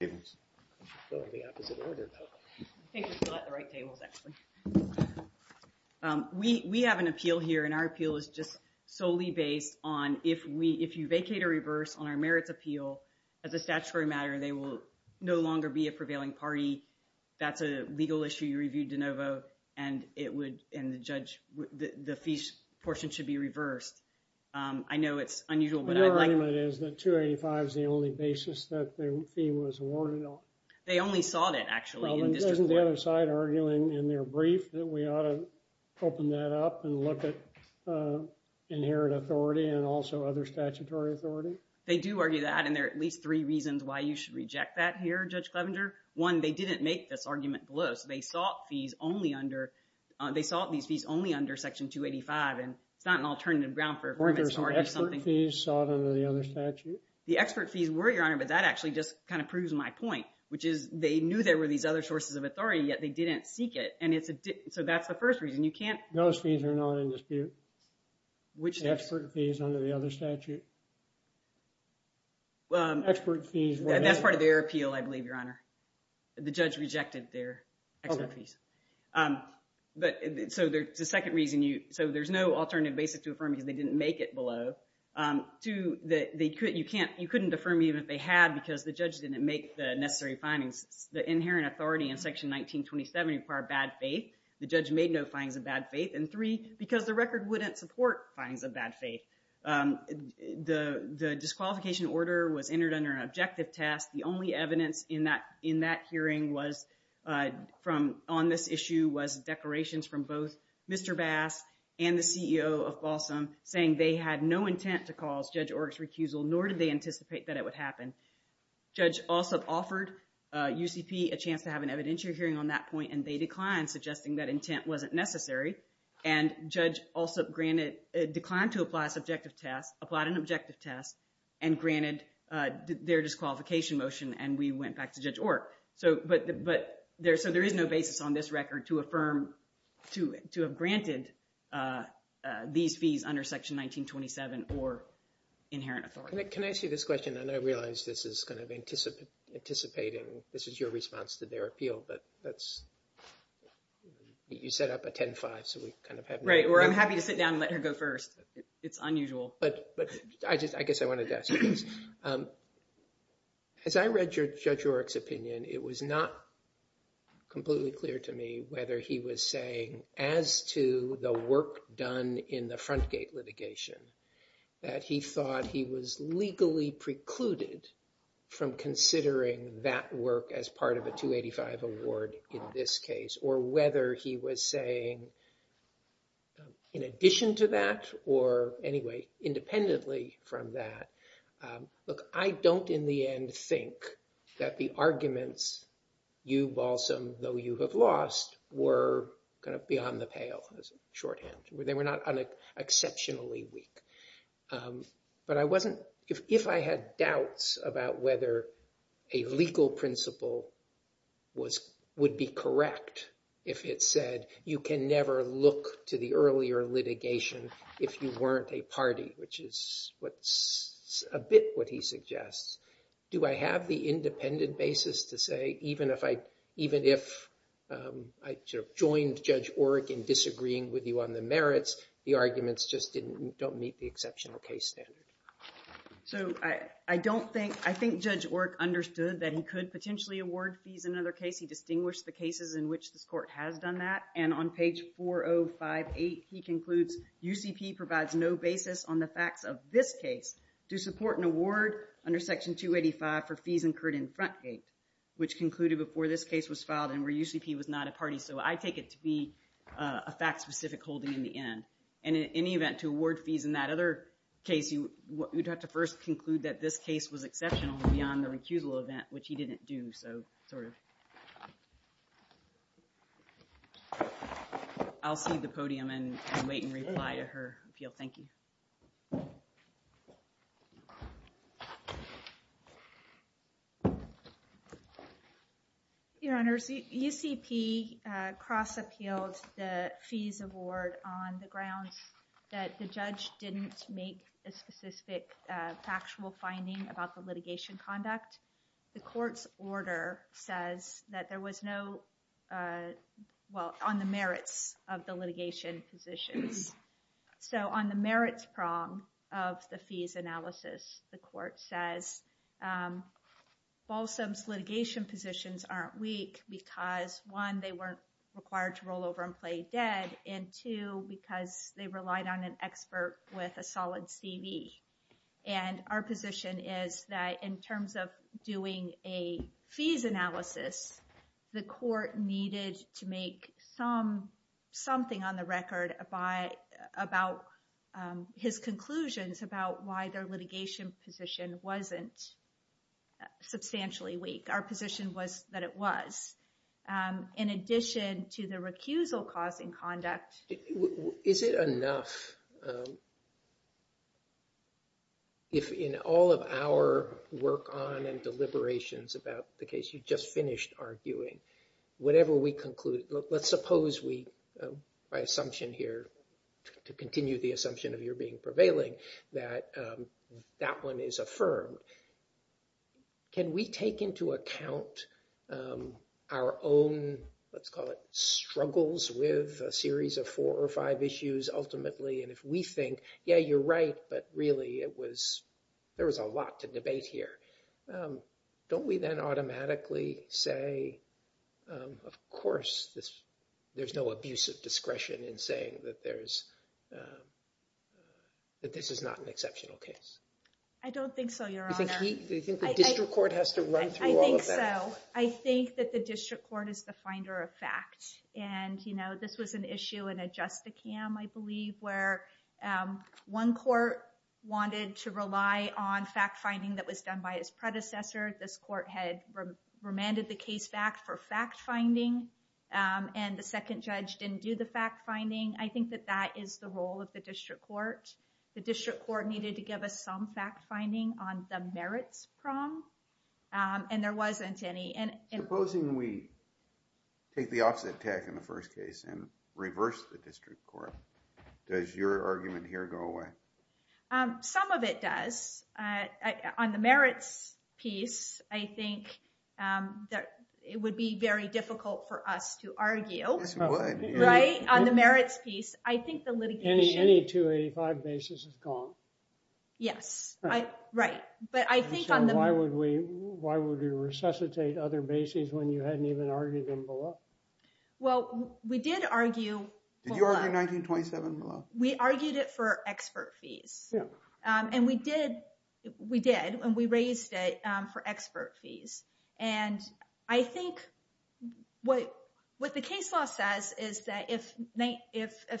We have an appeal here and our appeal is just solely based on if we, if you vacate or reverse on our merits appeal, as a statutory matter, they will no longer be a prevailing party. That's a legal issue you reviewed, DeNovo, and it would, and the judge, the fee portion should be reversed. I know it's unusual, but I'd like... The argument is that 285 is the only basis that the fee was awarded on. They only sought it, actually, in district court. Well, then isn't the other side arguing in their brief that we ought to open that up and look at inherent authority and also other statutory authority? They do argue that, and there are at least three reasons why you should reject that here, Judge Clevenger. One, they didn't make this argument below, so they sought fees only under, they sought these fees only under Section 285, and it's not an alternative ground for a permit to argue something... The expert fees sought under the other statute. The expert fees were, Your Honor, but that actually just kind of proves my point, which is they knew there were these other sources of authority, yet they didn't seek it, and it's a, so that's the first reason. You can't... Those fees are not in dispute. Which... The expert fees under the other statute. Expert fees were not... That's part of their appeal, I believe, Your Honor. The judge rejected their expert fees. But, so there's a second reason you, so there's no alternative basis to affirm because they didn't make it below. Two, that they couldn't, you can't, you couldn't affirm even if they had because the judge didn't make the necessary findings. The inherent authority in Section 1927 required bad faith. The judge made no findings of bad faith. And three, because the record wouldn't support findings of bad faith. The disqualification order was entered under an objective test. The only evidence in that hearing was from, on this issue was declarations from both Mr. Bass and the CEO of Balsam, saying they had no intent to cause Judge Orrick's recusal, nor did they anticipate that it would happen. Judge Alsup offered UCP a chance to have an evidentiary hearing on that point, and they declined, suggesting that intent wasn't necessary. And Judge Alsup granted, declined to apply a subjective test, applied an objective test, and granted their disqualification motion, and we went back to Judge Orrick. So, but, but, there, so there is no basis on this record to affirm, to, to have granted these fees under Section 1927 or inherent authority. Can I ask you this question? I realize this is kind of anticipating, this is your response to their appeal, but that's, you set up a 10-5, so we kind of have no... Right, or I'm happy to sit down and let her go first. It's unusual. But, but, I just, I guess I wanted to ask you this. As I read Judge Orrick's opinion, it was not completely clear to me whether he was saying, as to the work done in the front gate litigation, that he thought he was legally precluded from considering that work as part of a 285 award in this case, or whether he was saying, in addition to that, or, anyway, independently from that, look, I don't, in the end, think that the arguments, you, Balsam, though you have lost, were kind of beyond the pale, shorthand. They were not exceptionally weak. But I wasn't, if I had doubts about whether a legal principle was, would be correct if it said, you can never look to the earlier litigation if you weren't a party, which is what's, a bit what he suggests. Do I have the independent basis to say, even if I, even if I joined Judge Orrick in disagreeing with you on the merits, the arguments just didn't, don't meet the exceptional case standard? So I, I don't think, I think Judge Orrick understood that he could potentially award fees in another case. He distinguished the cases in which this court has done that. And on page 4058, he concludes, UCP provides no basis on the facts of this case to support an award under Section 285 for fees incurred in Frontgate, which concluded before this case was filed and where UCP was not a party. So I take it to be a fact-specific holding in the end. And in any event, to award fees in that other case, you would have to first conclude that this case was exceptional beyond the recusal event, which he didn't do, so sort of. I'll cede the podium and wait and reply to her appeal, thank you. Your Honors, UCP cross-appealed the fees award on the grounds that the judge didn't make a specific factual finding about the litigation conduct. The court's order says that there was no, well, on the merits of the litigation positions. So on the merits prong of the fees analysis, the court says, Balsam's litigation positions aren't weak because, one, they weren't required to roll over and play dead, and two, because they relied on an expert with a solid CV. And our position is that in terms of doing a fees analysis, the court needed to make something on the record about his conclusions about why their litigation position wasn't substantially weak. Our position was that it was. In addition to the recusal cause in conduct. Is it enough if in all of our work on and deliberations about the case you just finished arguing, whatever we conclude, let's suppose we, by assumption here, to continue the assumption of your being prevailing, that that one is affirmed. Can we take into account our own, let's call it, struggles with a series of four or five issues ultimately? And if we think, yeah, you're right, but really it was, there was a lot to debate here. Don't we then automatically say, of course, there's no abuse of discretion in saying that there is, that this is not an exceptional case? I don't think so, Your Honor. Do you think the district court has to run through all of that? I think so. I think that the district court is the finder of fact. And this was an issue in a justicam, I believe, where one court wanted to rely on fact-finding that was done by his predecessor. This court had remanded the case back for fact-finding, and the second judge didn't do the fact-finding. I think that that is the role of the district court. The district court needed to give us some fact-finding on the merits prong, and there wasn't any. Supposing we take the opposite tack in the first case and reverse the district court, does your argument here go away? Some of it does. On the merits piece, I think that it would be very difficult for us to argue. Yes, it would. Right? On the merits piece, I think the litigation... Any 285 basis is gone. Yes. Right. But I think on the... So why would we resuscitate other bases when you hadn't even argued them below? Well, we did argue below. Did you argue 1927 below? We argued it for expert fees. And we did. We did. And we raised it for expert fees. And I think what the case law says is that if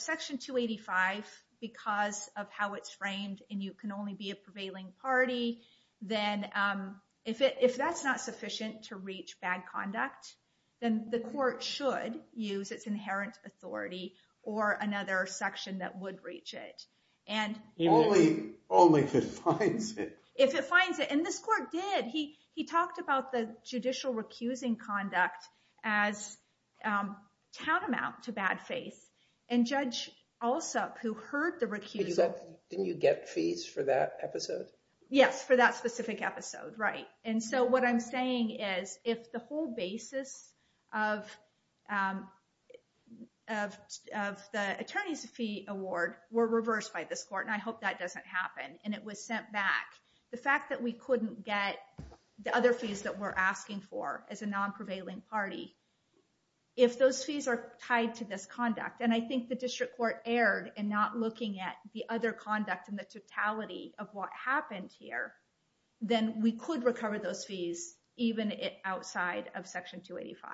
Section 285, because of how it's framed and you can only be a prevailing party, then if that's not sufficient to reach bad conduct, then the court should use its inherent authority or another section that would reach it. Only if it finds it. If it finds it. And this court did. He talked about the judicial recusing conduct as tantamount to bad faith. And Judge Alsup, who heard the recusal... Didn't you get fees for that episode? Yes, for that specific episode. Right. And so what I'm saying is, if the whole basis of the attorney's fee award were reversed by this court, and I hope that doesn't happen, and it was sent back, the fact that we couldn't get the other fees that we're asking for as a non-prevailing party, if those fees are tied to this conduct, and I think the district court erred in not looking at the other conduct and the totality of what happened here, then we could recover those fees, even outside of Section 285.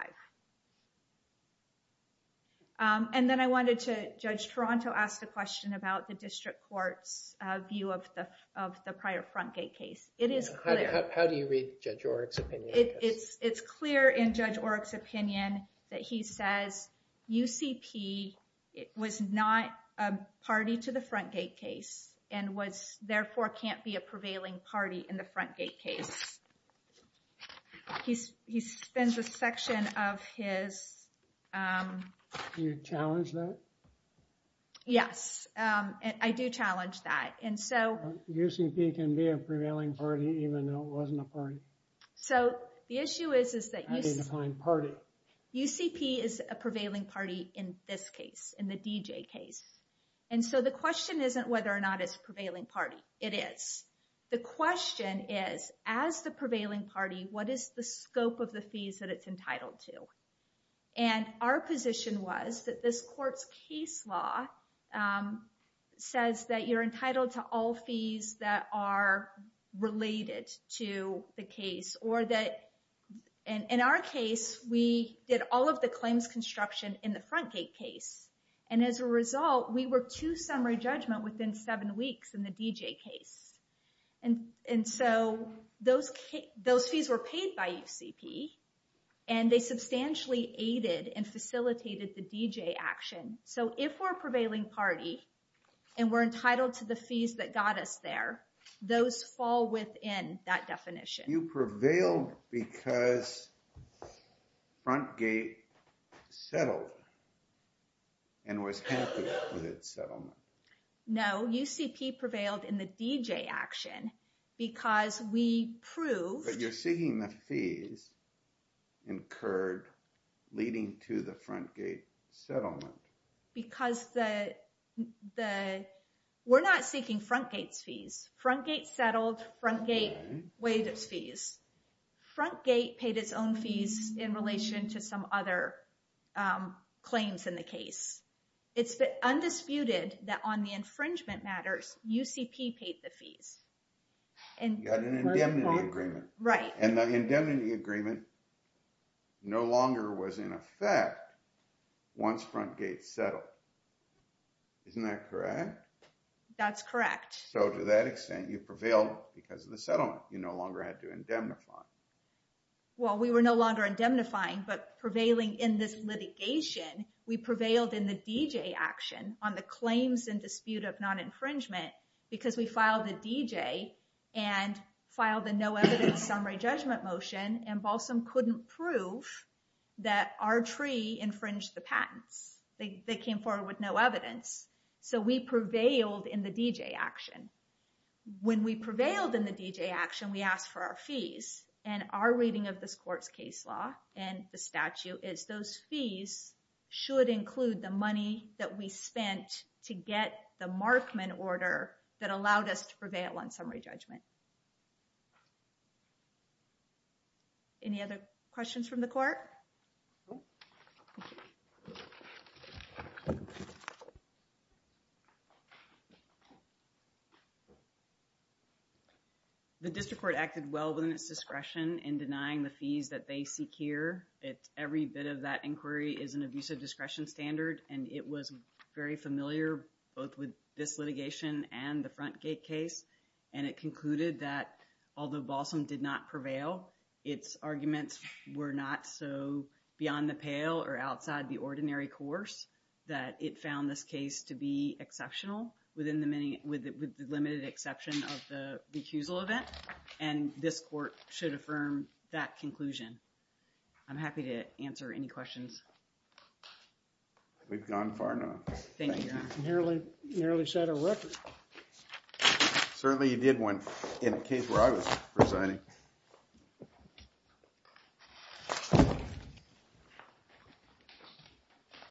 And then I wanted to... Judge Toronto asked a question about the district court's view of the prior Frontgate case. It is clear. How do you read Judge Oreck's opinion? It's clear in Judge Oreck's opinion that he says UCP was not a party to the Frontgate case, and was therefore can't be a prevailing party in the Frontgate case. He spends a section of his... You challenge that? Yes, I do challenge that. And so... It was a party, even though it wasn't a party. So the issue is, is that UCP is a prevailing party in this case, in the DJ case. And so the question isn't whether or not it's a prevailing party, it is. The question is, as the prevailing party, what is the scope of the fees that it's entitled to? And our position was that this court's case law says that you're entitled to all fees that are related to the case, or that... In our case, we did all of the claims construction in the Frontgate case. And as a result, we were to summary judgment within seven weeks in the DJ case. And so those fees were paid by UCP, and they substantially aided and facilitated the DJ action. So if we're a prevailing party, and we're entitled to the fees that got us there, those fall within that definition. You prevailed because Frontgate settled, and was happy with its settlement. No, UCP prevailed in the DJ action, because we proved... But you're seeking the fees incurred leading to the Frontgate settlement. Because the... We're not seeking Frontgate's fees. Frontgate settled, Frontgate waived its fees. Frontgate paid its own fees in relation to some other claims in the case. It's undisputed that on the infringement matters, UCP paid the fees. You had an indemnity agreement. Right. And the indemnity agreement no longer was in effect once Frontgate settled. Isn't that correct? That's correct. So to that extent, you prevailed because of the settlement. You no longer had to indemnify. Well, we were no longer indemnifying, but prevailing in this litigation, we prevailed in the DJ action on the claims and dispute of non-infringement, because we filed a DJ and filed a no evidence summary judgment motion, and Balsam couldn't prove that our tree infringed the patents. They came forward with no evidence. So we prevailed in the DJ action. When we prevailed in the DJ action, we asked for our fees. And our reading of this court's case law and the statute is those fees should include the money that we spent to get the Markman order that allowed us to prevail on summary judgment. Any other questions from the court? No. The district court acted well within its discretion in denying the fees that they seek here. Every bit of that inquiry is an abusive discretion standard, and it was very familiar both with this litigation and the Frontgate case, and it concluded that although Balsam did not beyond the pale or outside the ordinary course, that it found this case to be exceptional within the limited exception of the recusal event. And this court should affirm that conclusion. I'm happy to answer any questions. We've gone far enough. Thank you, Your Honor. Narrowly set a record. Certainly, you did one in a case where I was presiding. Thank you.